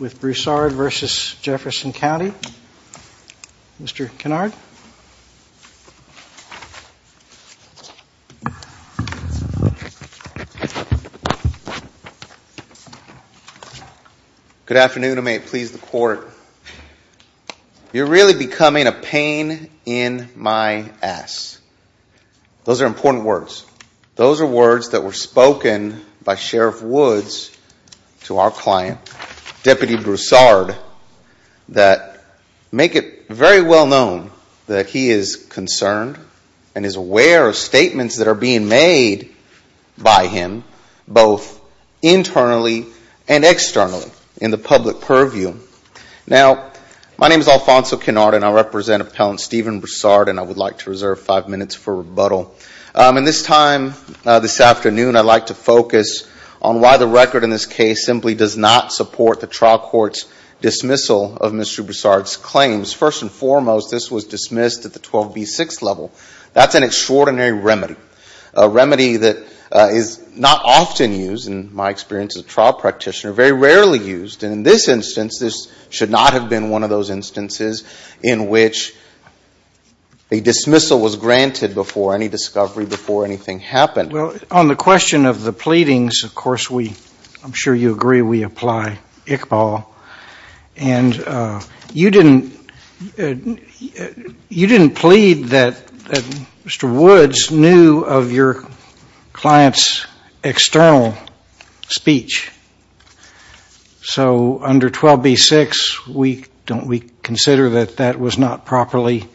with Broussard v. Jefferson County. Mr. Kennard. Good afternoon. I may please the court. You're really becoming a pain in my ass. Those are important words. Those are words that were spoken by Sheriff Woods to our client, Deputy Broussard, that make it very well known that he is concerned and is aware of statements that are being made by him both internally and externally in the public purview. Now, my name is Alfonso Kennard and I represent Appellant Stephen Broussard and I would like to reserve five minutes for this afternoon. I'd like to focus on why the record in this case simply does not support the trial court's dismissal of Mr. Broussard's claims. First and foremost, this was dismissed at the 12B6 level. That's an extraordinary remedy, a remedy that is not often used, in my experience as a trial practitioner, very rarely used. And in this instance, this should not have been one of those instances in which a dismissal was granted before any discovery, before anything happened. Well, on the question of the pleadings, of course, I'm sure you agree we apply Iqbal. And you didn't plead that Mr. Woods knew of your client's external speech. So under 12B6, don't we consider that that was not properly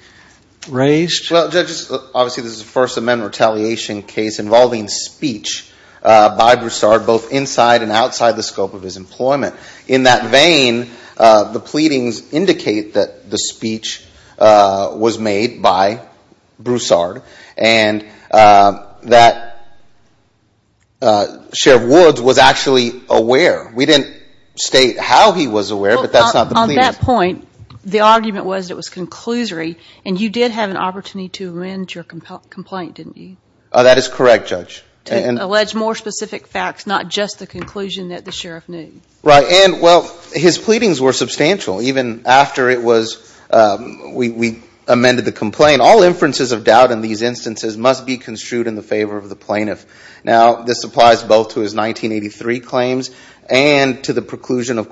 raised? Well, judges, obviously, this is a First Amendment retaliation case involving speech by Broussard, both inside and outside the scope of his employment. In that vein, the pleadings indicate that the speech was made by Broussard and that Sheriff Woods was actually aware. We didn't state how he was aware, but that's not the pleading. Well, on that point, the argument was it was didn't you? That is correct, Judge. To allege more specific facts, not just the conclusion that the Sheriff knew. Right. And, well, his pleadings were substantial, even after it was we amended the complaint. All inferences of doubt in these instances must be construed in the favor of the plaintiff. Now, this applies both to his 1983 claims and to the preclusion of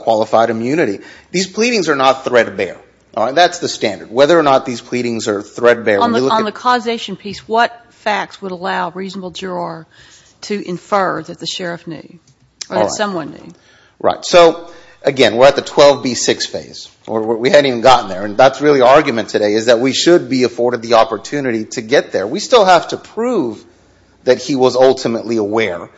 qualified immunity. These pleadings are not threadbare. That's the standard. Whether or not these pleadings are threadbare. On the causation piece, what facts would allow reasonable juror to infer that the Sheriff knew or that someone knew? Right. So, again, we're at the 12B6 phase. We hadn't even gotten there. And that's really the argument today, is that we should be afforded the opportunity to get there. We still have to prove that he was ultimately aware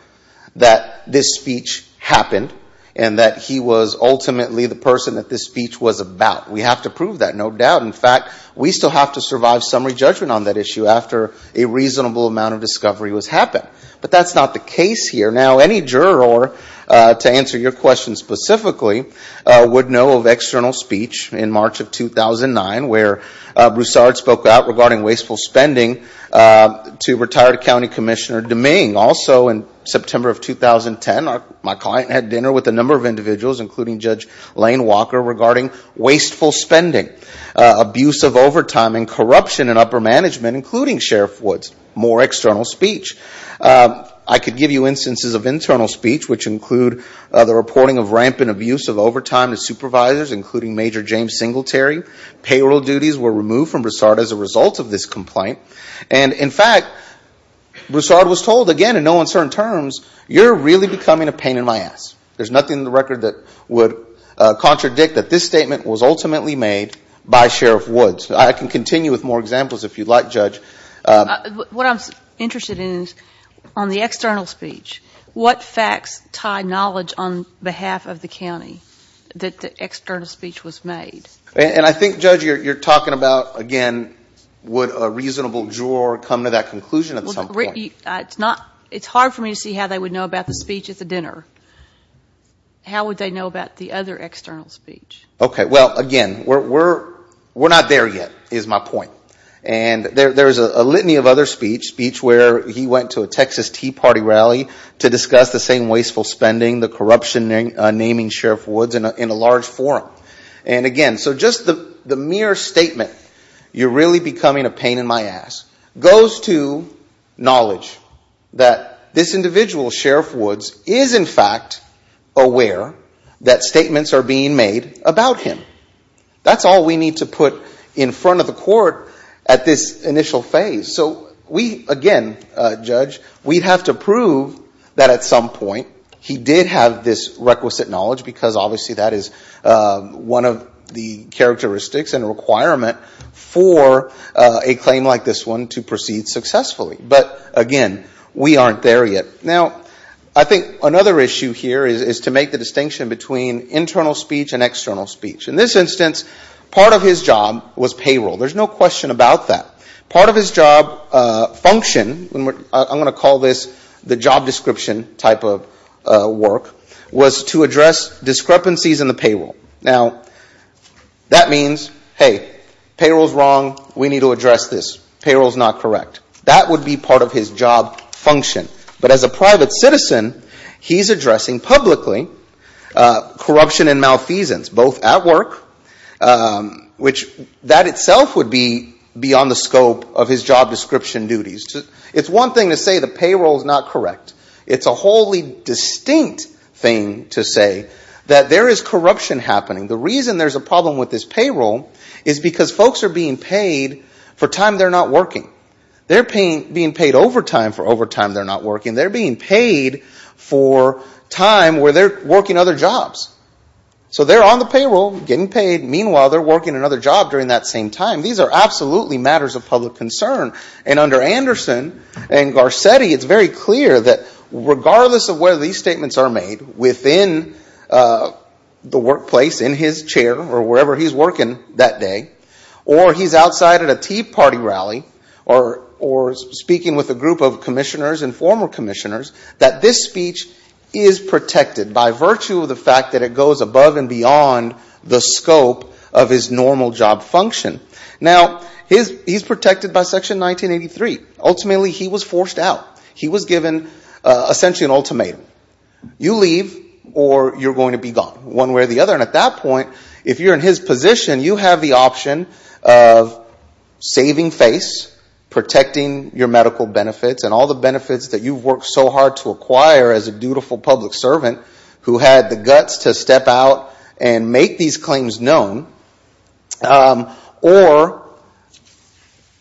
that this speech happened and that he was ultimately the person that the speech was about. We have to prove that, no doubt. In fact, we still have to survive summary judgment on that issue after a reasonable amount of discovery was happened. But that's not the case here. Now, any juror, to answer your question specifically, would know of external speech in March of 2009, where Broussard spoke out regarding wasteful spending to retired County Commissioner Domingue. Also, in September of 2010, my client had dinner with a number of individuals, including Judge Lane Walker, regarding wasteful spending, abuse of overtime and corruption in upper management, including Sheriff Woods. More external speech. I could give you instances of internal speech, which include the reporting of rampant abuse of overtime to supervisors, including Major James Singletary. Payroll duties were removed from Broussard as a result of this complaint. And, in fact, Broussard was told, again, in no absence, there's nothing in the record that would contradict that this statement was ultimately made by Sheriff Woods. I can continue with more examples if you'd like, Judge. What I'm interested in is, on the external speech, what facts tie knowledge on behalf of the County that the external speech was made? And I think, Judge, you're talking about, again, would a reasonable juror come to that conclusion at some point? It's hard for me to see how they would know about the speech at the dinner. How would they know about the other external speech? Okay. Well, again, we're not there yet, is my point. And there's a litany of other speech, speech where he went to a Texas Tea Party rally to discuss the same wasteful spending, the corruption naming Sheriff Woods, in a large forum. And, again, so just the mere statement, you're really becoming a pain in my ass, goes to knowledge that this individual, Sheriff Woods, is, in fact, aware that statements are being made about him. That's all we need to put in front of the court at this initial phase. So we, again, Judge, we'd have to prove that, at some point, he did have this requisite knowledge because, obviously, that is one of the characteristics and requirement for a claim like this one to proceed successfully. But, again, we aren't there yet. Now, I think another issue here is to make the distinction between internal speech and external speech. In this instance, part of his job was payroll. There's no question about that. Part of his job function, I'm going to call this the job description type of work, was to address discrepancies in the payroll. Now, that means, hey, payroll's wrong. We need to address this. Payroll's not correct. That would be part of his job function. But as a private citizen, he's addressing publicly corruption and malfeasance, both at work, which that itself would be beyond the scope of his job description duties. It's one thing to say the payroll's not correct. It's a wholly distinct thing to say that there is corruption happening. The reason there's a problem with this payroll is because folks are being paid for time they're not working. They're being paid overtime for overtime they're not working. They're being paid for time where they're working other jobs. So they're on the payroll, getting paid. Meanwhile, they're working another job during that same time. These are absolutely matters of public concern. And under Anderson and Garcetti, it's very clear that regardless of where these statements are made, within the workplace, in his chair or wherever he's working that day, or he's outside at a Tea Party rally, or speaking with a group of commissioners and former commissioners, that this speech is protected by virtue of the fact that it goes above and beyond the scope of his normal job function. Now, he's protected by Section 1983. Ultimately he was forced out. He was given essentially an ultimatum. You leave or you're going to be gone, one way or the other. And at that point, if you're in his position, you have the option of saving face, protecting your medical benefits and all the benefits that you've worked so hard to acquire as a dutiful public servant who had the guts to step out and make these claims known or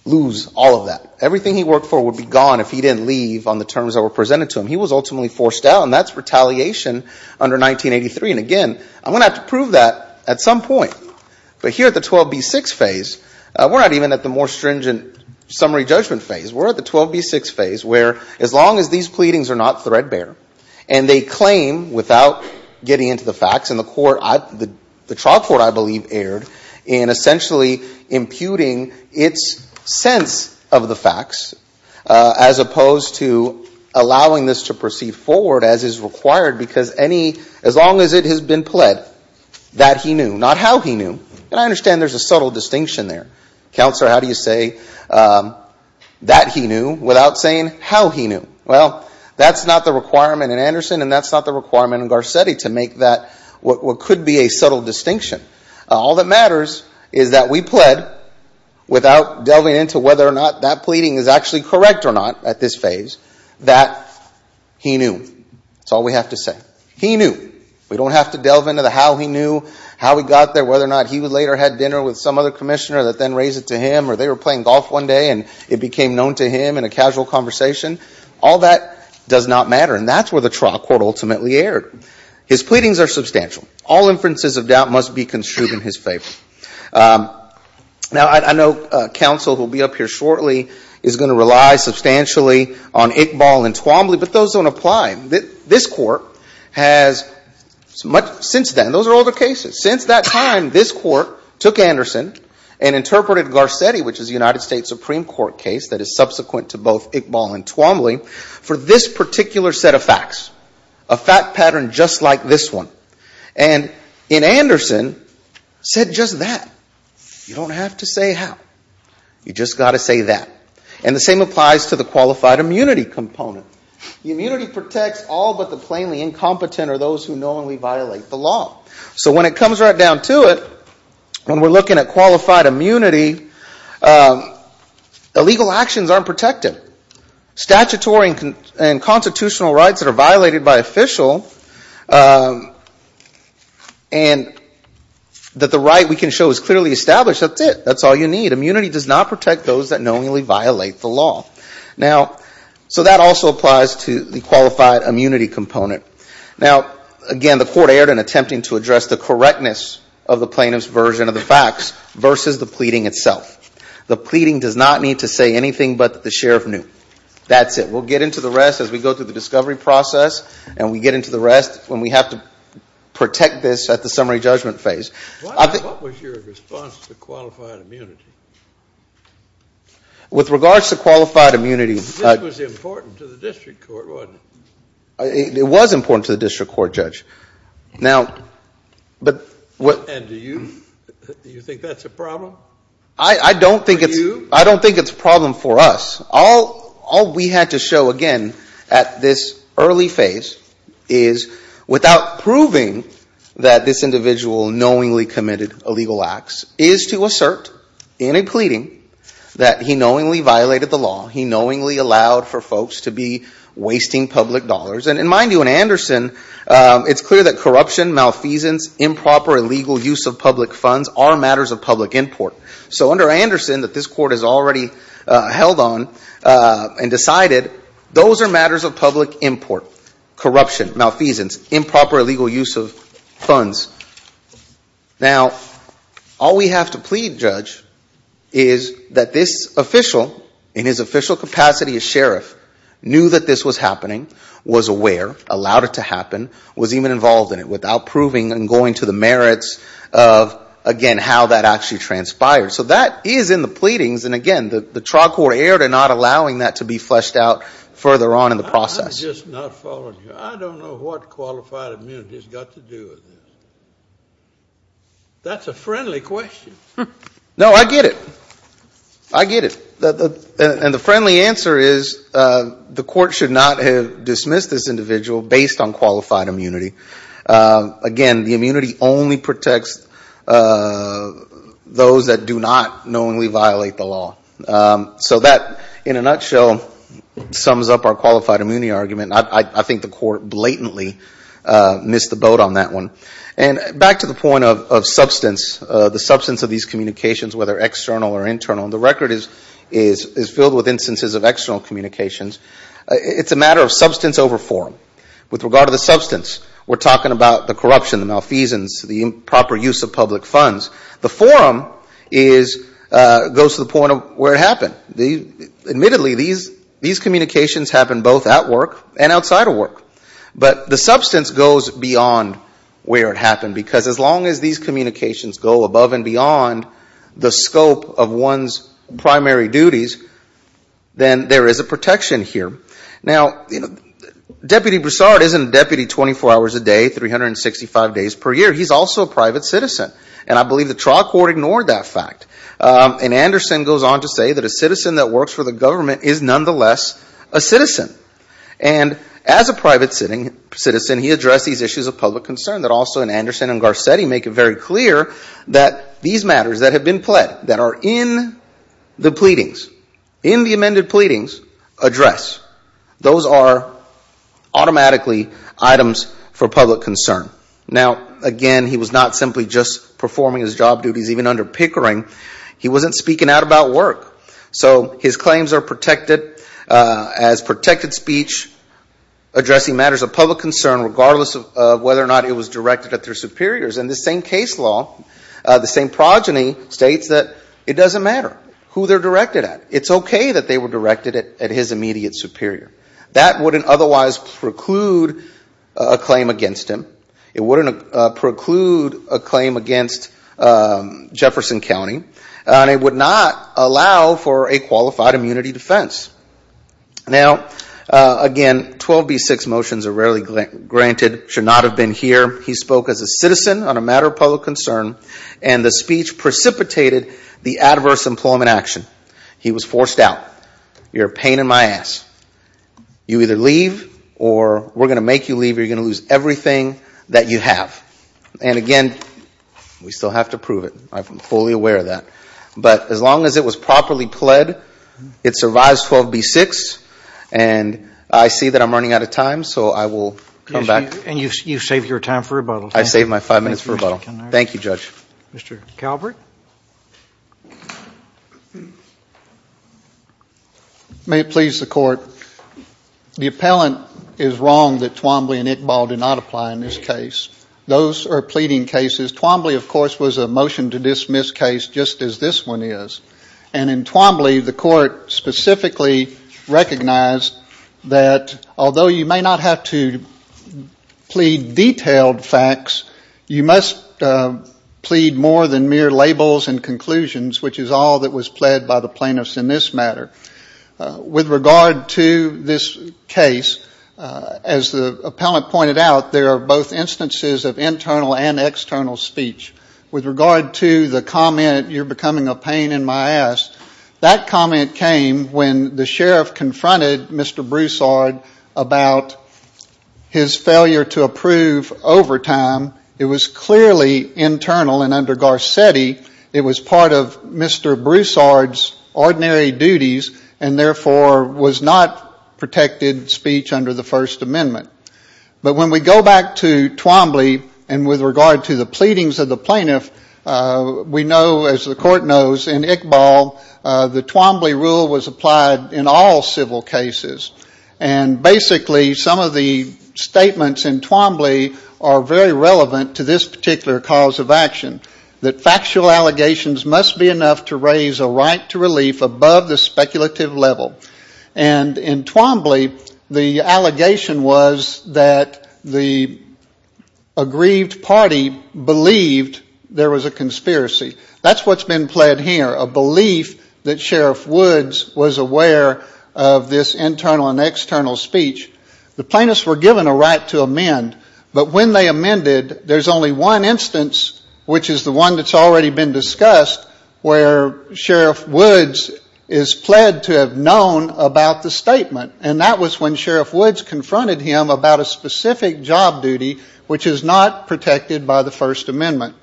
lose all of that. Everything he worked for would be gone if he didn't leave on the terms that were presented to him. He was ultimately forced out, and that's retaliation under 1983. And again, I'm going to have to prove that at some point. But here at the 12B6 phase, we're not even at the more stringent summary judgment phase. We're at the 12B6 phase, where as long as these pleadings are not threadbare, and they claim without getting into the facts, and the trial court, I believe, erred in essentially imputing its sense of the facts as opposed to allowing this to proceed forward as is required because as long as it has been pled, that he knew, not how he knew. And I understand there's a subtle distinction there. Counselor, how do you say that he knew without saying how he knew? Well, that's not the requirement in Anderson, and that's not the requirement in Garcetti to make that what could be a subtle distinction. All that matters is that we pled without delving into whether or not that pleading is actually correct or not at this phase, that he knew. That's all we have to say. He knew. We don't have to delve into the how he knew, how he got there, whether or not he later had dinner with some other commissioner that then raised it to him, or they were playing golf one day and it became known to him in a casual conversation. All that does not matter, and that's where the trial court ultimately erred. His pleadings are substantial. All inferences of doubt must be construed in his favor. Now I know counsel who will be up here shortly is going to rely substantially on Iqbal and Twombly, but those don't apply. This Court has, since then, those are older cases. Since that time, this Court took Anderson and interpreted Garcetti, which is a United States Supreme Court case that is subsequent to both Iqbal and Twombly, for this particular set of facts, a fact pattern just like this one. And in Anderson, said just that. You don't have to say how. You just got to say that. And the same applies to the qualified immunity component. The immunity protects all but the plainly incompetent or those who knowingly violate the law. So when it comes right down to it, when we're looking at qualified immunity, illegal actions aren't protected. Statutory and constitutional rights that are violated by official and that the right we can show is clearly established, that's it. That's all you need. Immunity does not protect those that knowingly violate the law. Now, so that also applies to the qualified immunity component. Now, again, the Court erred in attempting to address the correctness of the plaintiff's version of the facts versus the pleading itself. The pleading does not need to say anything but that the sheriff knew. That's it. We'll get into the rest as we go through the discovery process and we get into the rest when we have to protect this at the summary judgment phase. What was your response to qualified immunity? With regards to qualified immunity This was important to the district court, wasn't it? It was important to the district court, Judge. And do you think that's a problem for you? I don't think it's a problem for us. All we had to show, again, at this early phase is without proving that this individual knowingly committed illegal acts, is to assert in a pleading that he knowingly violated the law. He knowingly allowed for folks to be wasting public dollars. And mind you, in Anderson, it's clear that corruption, malfeasance, improper illegal use of public funds are matters of public import. So under Anderson, that this corruption, malfeasance, improper illegal use of funds. Now, all we have to plead, Judge, is that this official, in his official capacity as sheriff, knew that this was happening, was aware, allowed it to happen, was even involved in it without proving and going to the merits of, again, how that actually transpired. So that is in the pleadings. And again, the trial court erred in not allowing that to be fleshed out further on in the process. I'm just not following you. I don't know what qualified immunity has got to do with this. That's a friendly question. No, I get it. I get it. And the friendly answer is the court should not have dismissed this individual based on qualified immunity. Again, the immunity only protects those that do not knowingly violate the law. So that, in a nutshell, sums up our qualified immunity argument. I think the court blatantly missed the boat on that one. And back to the point of substance, the substance of these communications, whether external or internal, and the record is filled with instances of external communications. It's a matter of substance over forum. With regard to the substance, we're talking about the substance goes to the point of where it happened. Admittedly, these communications happen both at work and outside of work. But the substance goes beyond where it happened. Because as long as these communications go above and beyond the scope of one's primary duties, then there is a protection here. Now, Deputy Broussard isn't a deputy 24 hours a day, 365 days per year. He's also a private citizen. And I believe the trial court ignored that fact. And Anderson goes on to say that a citizen that works for the government is nonetheless a citizen. And as a private citizen, he addressed these issues of public concern that also in Anderson and Garcetti make it very clear that these matters that have been pled, that are in the pleadings, in the amended pleadings address. Those are automatically items for public concern. Now again, he was not simply just performing his job duties even under pickering. He wasn't speaking out about work. So his claims are protected as protected speech addressing matters of public concern regardless of whether or not it was directed at their superiors. And this same case law, the same progeny states that it doesn't matter who they're directed at. It's okay that they were directed at his immediate superior. That wouldn't otherwise preclude a claim against him. It wouldn't preclude a claim against Jefferson County. And it would not allow for a qualified immunity defense. Now again, 12B6 motions are rarely granted, should not have been here. He spoke as a citizen on a matter of public concern. And the speech precipitated the adverse employment action. He was forced out. You're a pain in my ass. You either leave or we're going to make you leave or you're going to lose everything that you have. And again, we still have to prove it. I'm fully aware of that. But as long as it was properly pled, it survives 12B6. And I see that I'm running out of time, so I will come back. And you've saved your time for rebuttal. I saved my five minutes for rebuttal. Thank you, Judge. Mr. Calvert. May it please the court. The appellant is wrong that Twombly and Iqbal did not apply in this case. Those are pleading cases. Twombly, of course, was a motion to dismiss case just as this one is. And in Twombly, the court specifically recognized that although you may not have to plead detailed facts, you must plead more than mere layman's terms. Labels and conclusions, which is all that was pled by the plaintiffs in this matter. With regard to this case, as the appellant pointed out, there are both instances of internal and external speech. With regard to the comment, you're becoming a pain in my ass, that comment came when the sheriff confronted Mr. Broussard about his failure to approve overtime. It was clearly internal and under Garcetti. It was part of Mr. Broussard's ordinary duties and therefore was not protected speech under the First Amendment. But when we go back to Twombly and with regard to the pleadings of the plaintiff, we know as the court knows, in Iqbal, the Twombly rule was applied in all civil cases. And basically some of the statements in Twombly are very relevant to this particular cause of action. That factual allegations must be enough to raise a right to relief above the speculative level. And in Twombly, the allegation was that the aggrieved party believed there was a conspiracy. That's what's been pled here. A belief that Sheriff Woods was aware of this internal and external speech. The plaintiffs were given a right to amend. But when they amended, there's only one instance, which is the one that's already been discussed, where Sheriff Woods is pled to have known about the statement. And that was when Sheriff Woods confronted him about a specific job duty, which is not protected by the First Amendment.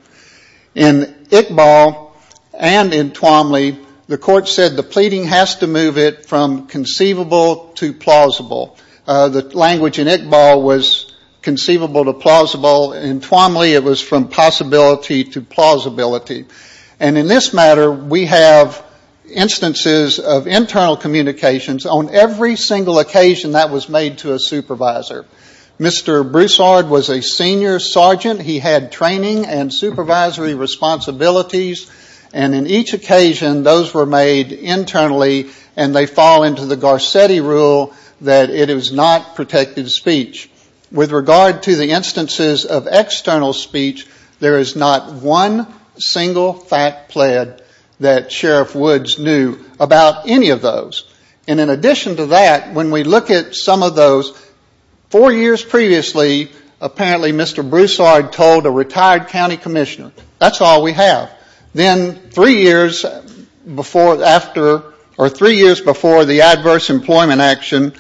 In Iqbal and in Twombly, the court said the pleading has to move it from conceivable to plausible. The language in Iqbal was conceivable to plausible. In Twombly, it was from possibility to plausibility. And in this matter, we have instances of internal communications on every single occasion that was made to a supervisor. Mr. Broussard was a senior sergeant. He had training and supervisory responsibilities. And in each occasion, those were made internally and they fall into the Garcetti rule that it is not protected speech. With regard to the instances of external speech, there is not one single fact pled that Sheriff Woods knew about any of those. And in addition to that, when we look at some of those, four years ago, Mr. Broussard told a retired county commissioner. That's all we have. Then three years before the adverse employment action,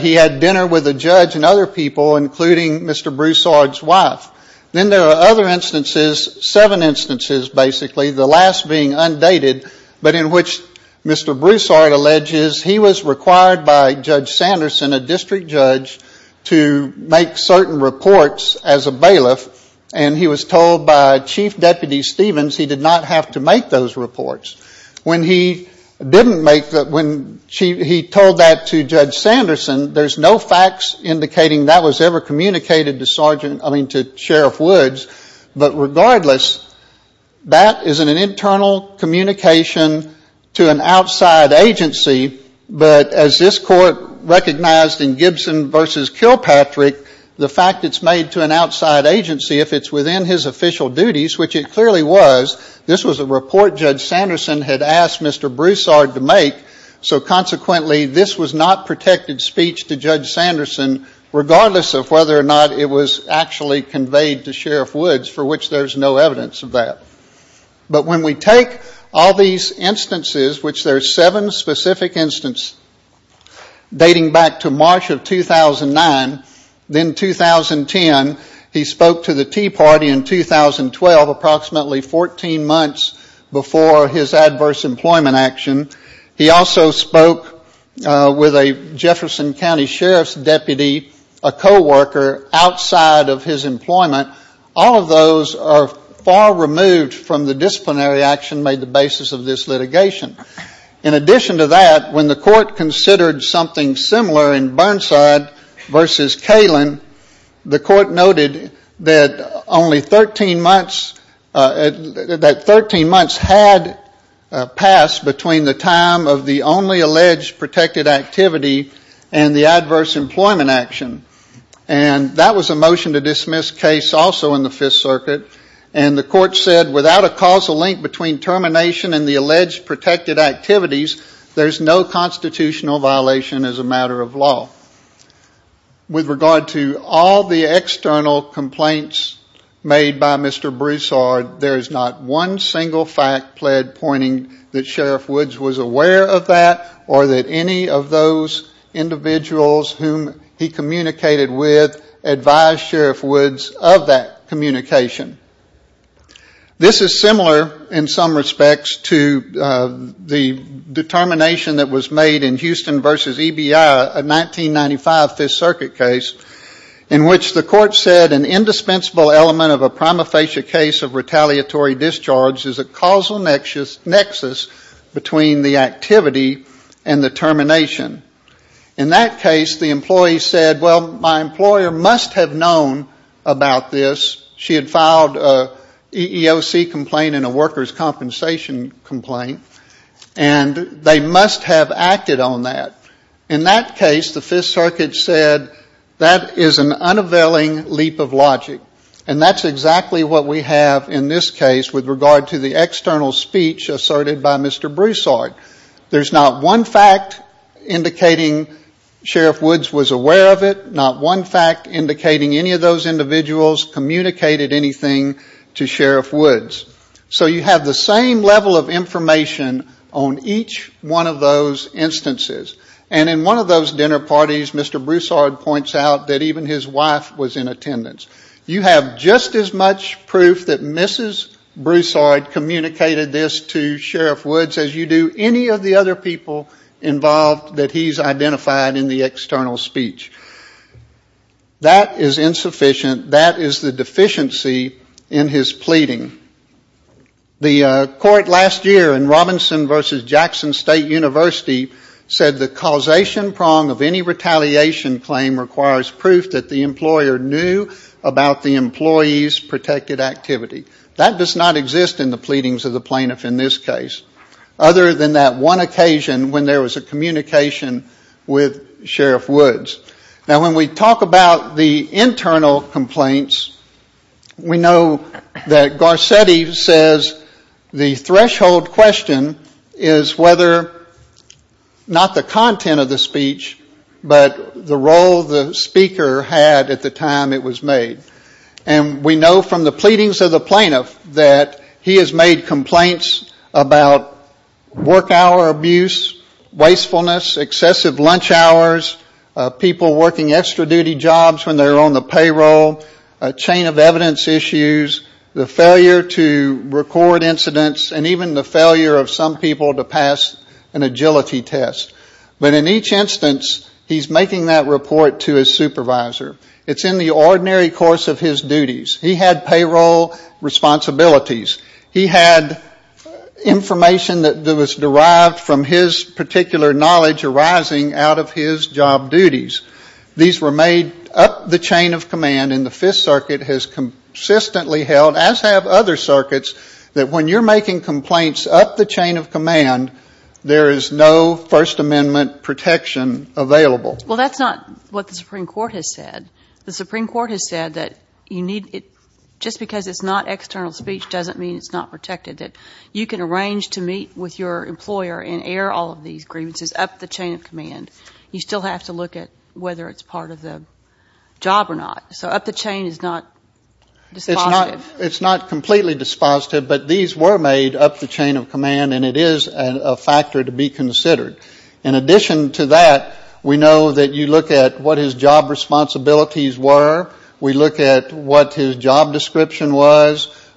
he had dinner with a judge and other people, including Mr. Broussard's wife. Then there are other instances, seven instances basically, the last being undated, but in which Mr. Broussard alleges he was required by Judge Sanderson, a district judge, to make certain reports as a bailiff. And he was told by Chief Deputy Stevens he did not have to make those reports. When he didn't make that, when he told that to Judge Sanderson, there's no facts indicating that was ever communicated to Sheriff Woods. But regardless, that is an internal communication to an outside agency. But as this Court recognized, in Gibson v. Kilpatrick, the fact it's made to an outside agency, if it's within his official duties, which it clearly was, this was a report Judge Sanderson had asked Mr. Broussard to make. So consequently, this was not protected speech to Judge Sanderson, regardless of whether or not it was actually conveyed to Sheriff Woods, for which there's no evidence of that. But when we take all these instances, which there are seven specific instances, dating back to March of 2009, then 2010, he spoke to the Tea Party in 2012, approximately 14 months before his adverse employment action. He also spoke with a Jefferson County Sheriff's deputy, a co-worker, outside of his employment. All of those are far removed from the disciplinary action made the basis of this litigation. In addition to that, when the Court considered something similar in Burnside v. Kalin, the Court noted that only 13 months, that 13 months had passed between the time of the only alleged protected activity and the adverse employment action. And that was a motion to dismiss case also in the Fifth Circuit. And the Court said without a causal link between termination and the alleged protected activities, there's no constitutional violation as a matter of law. With regard to all the external complaints made by Mr. Broussard, there is not one single fact pled pointing that Sheriff Woods was aware of that or that any of those individuals whom he communicated with advised Sheriff Woods of that communication. This is similar in some respects to the determination that was made in Houston v. EBI, a 1995 Fifth Circuit case, in which the Court said an indispensable element of a prima facie case of retaliatory discharge is a causal nexus between the activity and the termination. In that case, the employee said, well, my employer must have known about this. She had filed an EEOC complaint and a workers' compensation complaint. And they must have acted on that. In that case, the Fifth Circuit said, that is an unavailing leap of logic. And that's exactly what we have in this case with regard to the external speech asserted by Mr. Broussard. There's not one fact indicating Sheriff Woods was aware of it, not one fact indicating any of those individuals communicated anything to one of those instances. And in one of those dinner parties, Mr. Broussard points out that even his wife was in attendance. You have just as much proof that Mrs. Broussard communicated this to Sheriff Woods as you do any of the other people involved that he's identified in the external speech. That is insufficient. That is the deficiency in his pleading. The court last year in Robinson v. Jackson State University said the causation prong of any retaliation claim requires proof that the employer knew about the employee's protected activity. That does not exist in the pleadings of the plaintiff in this case, other than that one occasion when there was a communication with Sheriff Woods. Now, when we talk about the internal complaints, we know that Garcetti says the threshold question is whether, not the content of the speech, but the role the speaker had at the time it was made. And we know from the pleadings of the plaintiff that he has made complaints about work hour abuse, wastefulness, excessive lunch hours, people working extra duty jobs when they're on the payroll, a chain of evidence issues, the failure to record incidents, and even the failure of some people to pass an agility test. But in each instance, he's making that report to his supervisor. It's in the ordinary course of his duties. He had payroll responsibilities. He had information that was derived from his particular knowledge arising out of his job duties. These were made up the chain of command, and the Fifth Circuit has consistently held, as have other circuits, that when you're making complaints up the chain of command, there is no First Amendment protection available. Well, that's not what the Supreme Court has said. The Supreme Court has said that you can arrange to meet with your employer and air all of these grievances up the chain of command. You still have to look at whether it's part of the job or not. So up the chain is not dispositive. It's not completely dispositive, but these were made up the chain of command, and it is a factor to be considered. In addition to that, we know that you look at what his job description was.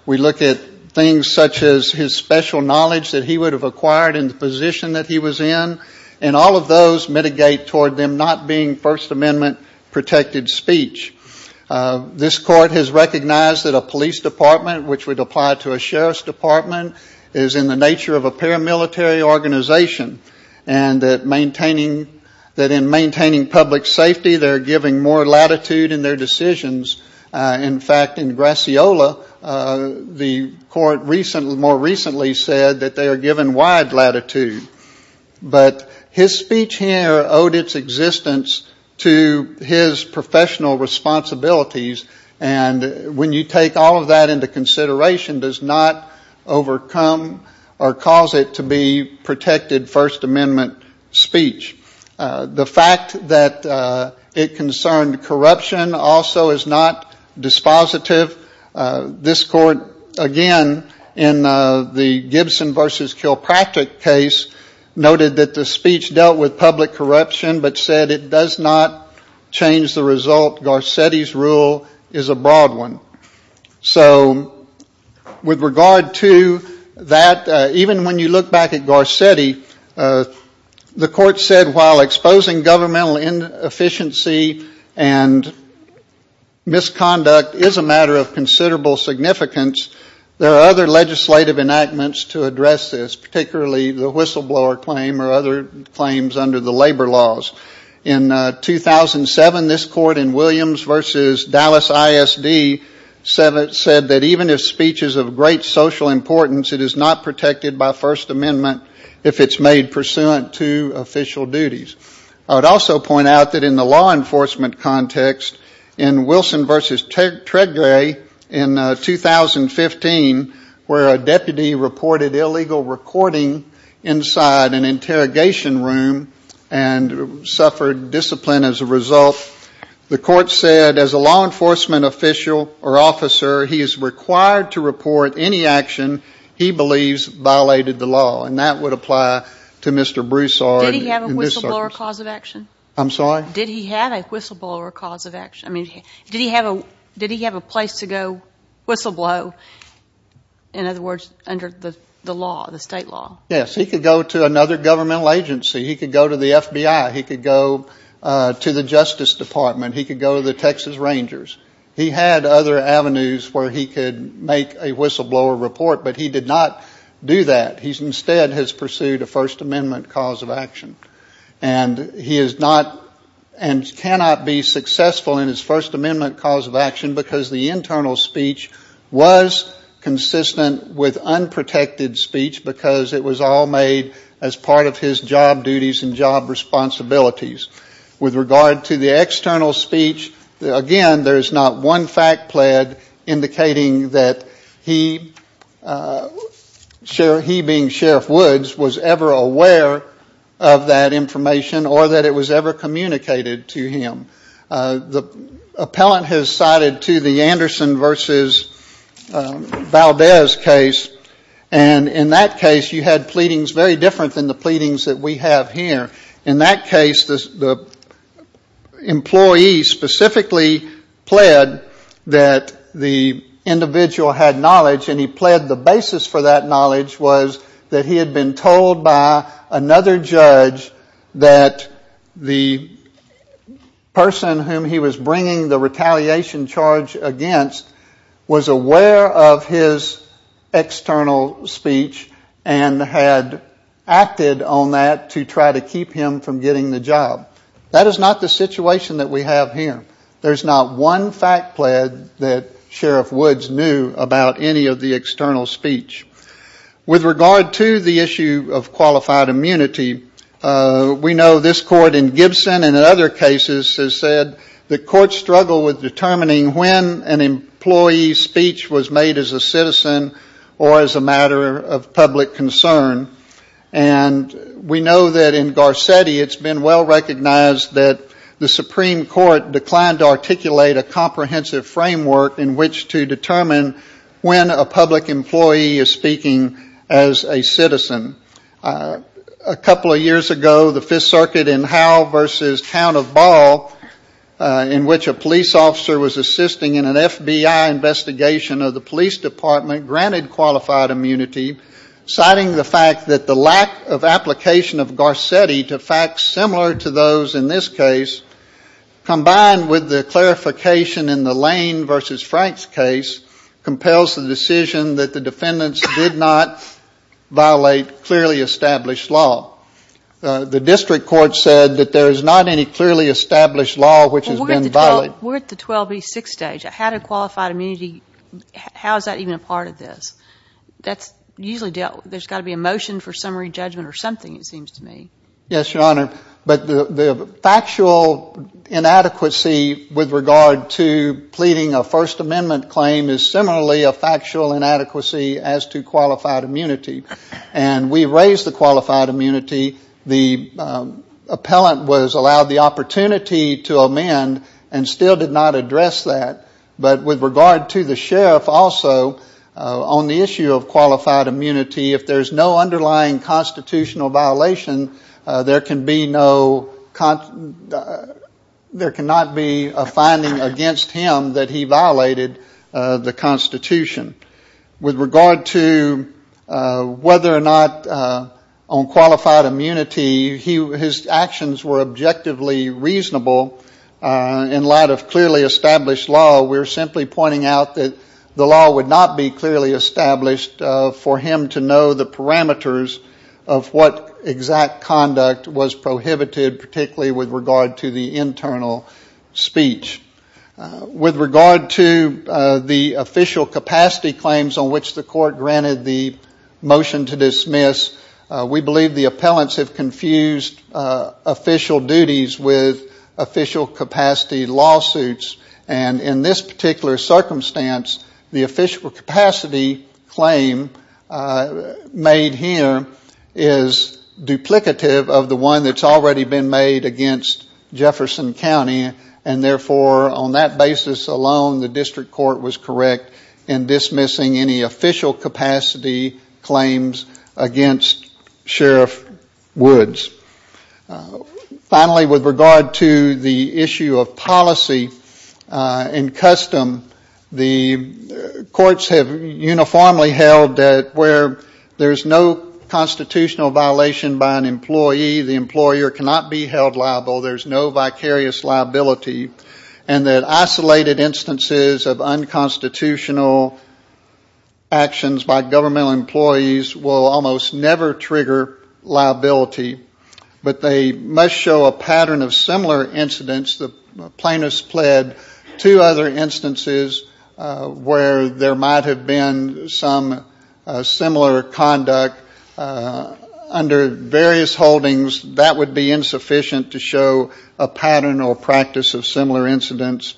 We look at things such as his special knowledge that he would have acquired in the position that he was in, and all of those mitigate toward them not being First Amendment-protected speech. This Court has recognized that a police department, which would apply to a sheriff's department, is in the nature of a paramilitary organization, and that in maintaining public safety, they're giving more latitude in their decisions. In fact, in Graciola, the Court more recently said that they are given wide latitude. But his speech here owed its existence to his professional responsibilities, and when you take all of that into consideration, does not overcome or cause it to be protected First Amendment speech. The fact that it concerned corruption also is not dispositive. This Court, again, in the Gibson v. Kilpatrick case, noted that the speech dealt with public corruption, but said it does not change the result. Garcetti's rule is a broad one. So with regard to that, even when you look back at Garcetti, the Court said that he was saying, while exposing governmental inefficiency and misconduct is a matter of considerable significance, there are other legislative enactments to address this, particularly the whistleblower claim or other claims under the labor laws. In 2007, this Court in Williams v. Dallas ISD said that even if speech is of great social importance, it is not protected by First Amendment if it's made pursuant to official duties. I would also point out that in the law enforcement context, in Wilson v. Tredgray in 2015, where a deputy reported illegal recording inside an interrogation room and suffered discipline as a result, the Court said, as a law enforcement official or officer, he is required to report any action he believes violated the law. And that would apply to Mr. Broussard. Did he have a whistleblower cause of action? I'm sorry? Did he have a whistleblower cause of action? I mean, did he have a place to go whistleblow, in other words, under the law, the state law? Yes. He could go to another governmental agency. He could go to the FBI. He could go to the Justice Department. He could go to the Texas whistleblower report. But he did not do that. He instead has pursued a First Amendment cause of action. And he is not and cannot be successful in his First Amendment cause of action because the internal speech was consistent with unprotected speech because it was all made as part of his job duties and job responsibilities. With regard to the external speech, again, there is not one fact pled indicating that he, he being Sheriff Woods, was ever aware of that information or that it was ever communicated to him. The appellant has cited to the Anderson v. Valdez case. And in that case, you had the employee specifically pled that the individual had knowledge. And he pled the basis for that knowledge was that he had been told by another judge that the person whom he was bringing the retaliation charge against was aware of his external speech and had acted on that to try to keep him from getting the job. That is not the situation that we have here. There is not one fact pled that Sheriff Woods knew about any of the external speech. With regard to the issue of qualified immunity, we know this court in Gibson and in other cases has said the courts struggle with determining when an employee's speech was made as a citizen or as a matter of public concern. And we know that in Garcetti, it has been well recognized that the Supreme Court declined to articulate a comprehensive framework in which to determine when a public employee is speaking as a citizen. A couple of years ago, the Fifth Circuit in Howell v. Town of Ball, in which a police officer was assisting in an FBI investigation of the police department, granted qualified immunity, citing the fact that the lack of application of Garcetti to facts similar to those in this case, combined with the clarification in the Lane v. Franks case, compels the decision that the defendants did not violate clearly established law. The district court said that there is not any clearly established law which has been violated. We're at the 12 v. 6 stage. How does qualified immunity, how is that even a part of this? That's usually dealt with. There's got to be a motion for summary judgment or something it seems to me. Yes, Your Honor. But the factual inadequacy with regard to pleading a First Amendment claim is similarly a factual inadequacy as to qualified immunity. And we raised the qualified immunity. The appellant was allowed the opportunity to amend and still did not address that. But with regard to the sheriff also, on the issue of qualified immunity, if there's no underlying constitutional violation, there can be no, there cannot be a finding against him that he violated the Constitution. With regard to whether or not on qualified immunity his actions were objectively reasonable in light of clearly established law, we're simply pointing out that the law would not be clearly established for him to know the parameters of what exact conduct was prohibited, particularly with regard to the internal speech. With regard to the official capacity claims on which the court granted the motion to dismiss, we believe the appellants have confused official duties with official capacity lawsuits. And in this particular circumstance, the official capacity claim made here is duplicative of the one that's already been made against Jefferson County. And therefore, on that basis alone, the district court was correct in dismissing any official capacity claims against Sheriff Woods. Finally, with regard to the issue of policy and custom, the courts have uniformly held that where there's no constitutional violation by an employee, the employer cannot be held liable. There's no vicarious liability. And that isolated instances of unconstitutional actions by governmental employees will almost never trigger liability. But they must show a pattern of similar incidents. The plaintiffs pled to other instances where there might have been some similar conduct. Under various holdings, that would be insufficient to show a pattern or practice of similar incidents.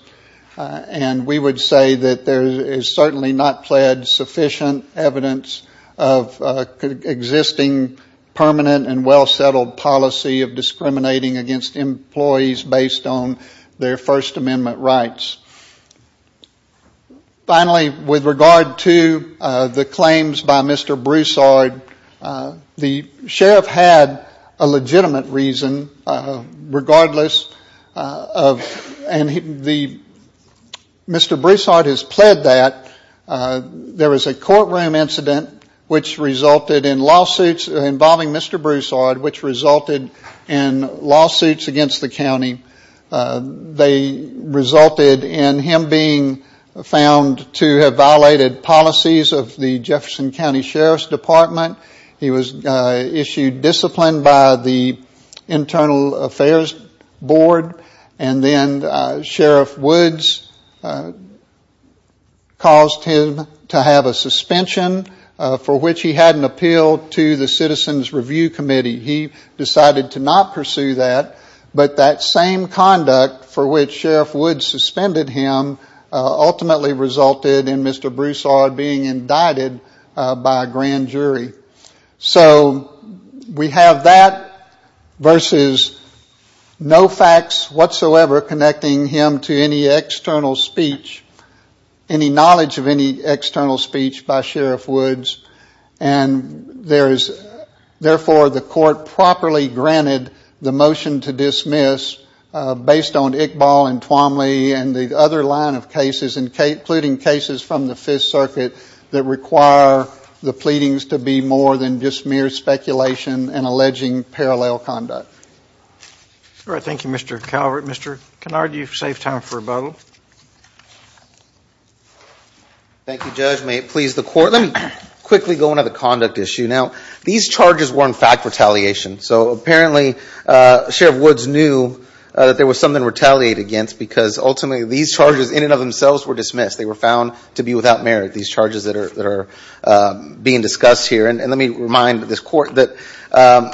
And we would say that there is certainly not pled sufficient evidence of existing permanent and well-settled policy of discriminating against employees based on their First Amendment rights. Finally, with regard to the claims by Mr. Broussard, the sheriff had a legitimate reason regardless of and the Mr. Broussard has pled that. There was a courtroom incident which resulted in lawsuits involving Mr. Broussard which resulted in lawsuits against the county. They resulted in him being found to have violated policies of the Jefferson County Sheriff's Department. He was issued discipline by the Internal Affairs Board. And then Sheriff Woods caused him to have a suspension for which he had an appeal to the Citizens Review Committee. He decided to not pursue that. But that same conduct for which Sheriff Woods suspended him ultimately resulted in Mr. Broussard being indicted by a grand jury. So we have that versus no facts whatsoever connecting him to any external speech, any external speech. And the court properly granted the motion to dismiss based on Iqbal and Twomley and the other line of cases, including cases from the Fifth Circuit that require the pleadings to be more than just mere speculation and alleging parallel conduct. All right. Thank you, Mr. Calvert. Mr. Kennard, you have saved time for rebuttal. Thank you, Judge. May it please the Court. Let me quickly go into the conduct issue. Now, these charges were, in fact, retaliation. So apparently Sheriff Woods knew that there was something to retaliate against because ultimately these charges in and of themselves were dismissed. They were found to be without merit, these charges that are being discussed here. And let me remind this Court that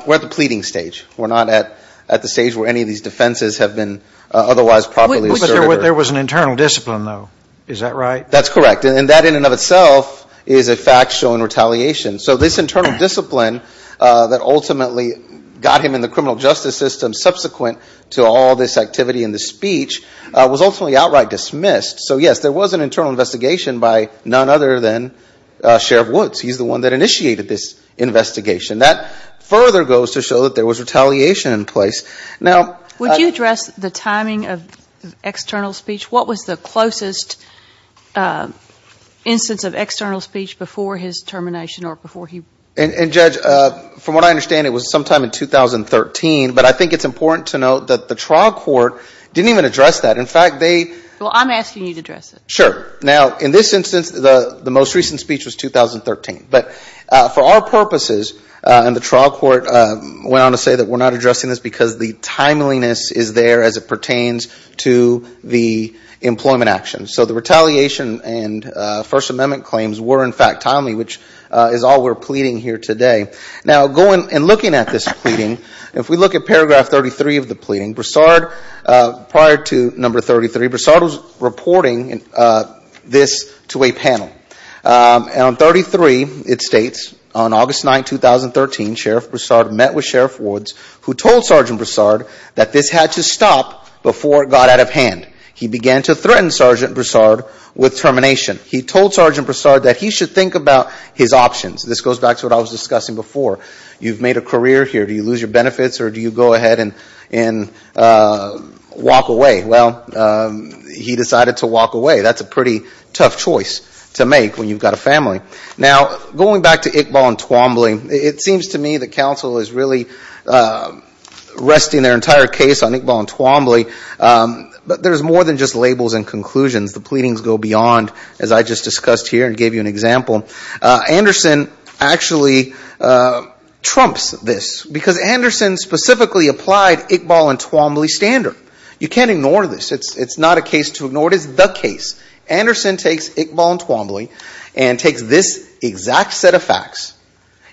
we're at the pleading stage. We're not at the stage where any of these defenses have been otherwise properly asserted. There was an internal discipline, though. Is that right? That's correct. And that in and of itself is a fact showing retaliation. So this internal discipline that ultimately got him in the criminal justice system subsequent to all this activity and this speech was ultimately outright dismissed. So, yes, there was an internal investigation by none other than Sheriff Woods. He's the one that initiated this investigation. That further goes to show that there was retaliation in place. Would you address the timing of external speech? What was the closest instance of external speech before his termination or before he? And Judge, from what I understand, it was sometime in 2013. But I think it's important to note that the trial court didn't even address that. In fact, they Well, I'm asking you to address it. Sure. Now, in this instance, the most recent speech was 2013. But for our purposes, and the trial court went on to say that we're not addressing this because the timeliness is there as it pertains to the employment action. So the retaliation and First Amendment claims were, in fact, timely, which is all we're pleading here today. Now going and looking at this pleading, if we look at paragraph 33 of the pleading, Broussard, prior to number 33, Broussard was reporting this to a panel. And on 33, it states, on August 9, 2013, Sheriff Broussard met with Sheriff Woods, who told Sergeant Broussard that this had to stop before it got out of hand. He began to threaten Sergeant Broussard with termination. He told Sergeant Broussard that he should think about his options. This goes back to what I was discussing before. You've made a career here. Do you lose your benefits or do you go ahead and walk away? Well, he decided to walk away. That's a pretty tough choice to make when you've got a family. Now going back to Iqbal and Twombly, it seems to me that counsel is really resting their entire case on Iqbal and Twombly. But there's more than just labels and conclusions. The pleadings go beyond, as I just discussed here and gave you an example. Anderson actually trumps this because Anderson specifically applied Iqbal and Twombly standard. You can't ignore this. It's not a case to ignore. It is the case. Anderson takes Iqbal and Twombly and takes this exact set of facts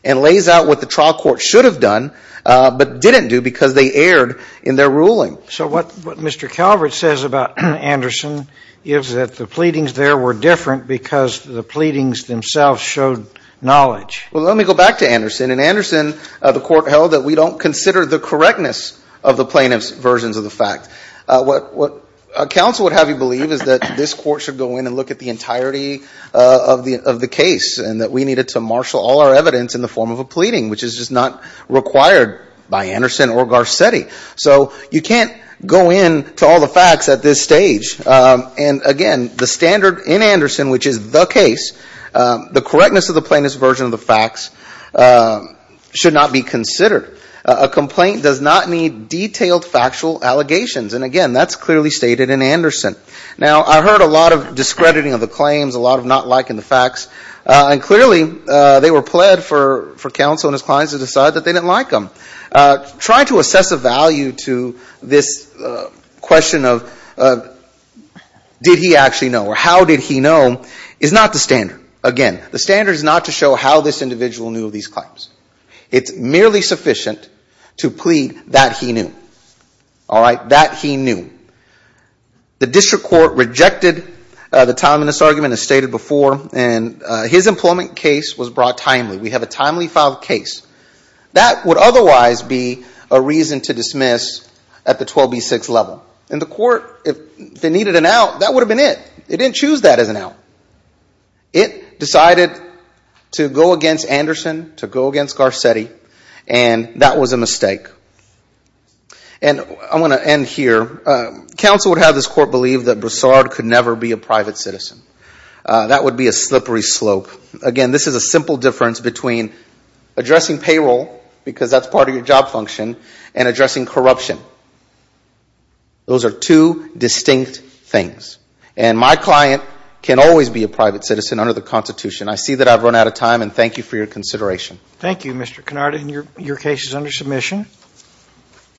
and lays out what the trial court should have done but didn't do because they erred in their ruling. So what Mr. Calvert says about Anderson is that the pleadings there were different because the pleadings themselves showed knowledge. Well, let me go back to Anderson. In Anderson, the court held that we don't consider the correctness of the plaintiff's versions of the fact. What counsel would have you believe is that this court should go in and look at the entirety of the case and that we needed to marshal all our evidence in the form of a pleading, which is just not required by Anderson or Garcetti. So you can't go in to all the facts at this stage. And again, the standard in Anderson, which is the case, the correctness of the plaintiff's version of the facts should not be considered. A complaint does not need detailed factual allegations. And again, that's clearly stated in Anderson. Now, I heard a lot of discrediting of the claims, a lot of not liking the facts. And clearly, they were pled for counsel and his clients to decide that they didn't like them. Trying to assess a value to this question of did he actually know or how did he know is not the standard. Again, the standard is not to show how this individual knew of these claims. It's merely sufficient to plead that he knew. All right? That he knew. The district court rejected the time in this argument as stated before. And his employment case was brought timely. We have a timely filed case. That would otherwise be a reason to dismiss at the 12B6 level. And the court, if they needed an out, that would have been it. It didn't choose that as an out. It decided to go against Anderson, to go against Garcetti, and that was a mistake. And I'm going to end here. Counsel would have this court believe that Broussard could never be a private citizen. That would be a slippery slope. Again, this is a simple difference between addressing payroll, because that's part of your job function, and addressing corruption. Those are two distinct things. And my client can always be a private citizen under the Constitution. I see that I've run out of time and thank you for your consideration. Thank you, Mr. Canarda, and your case is under submission.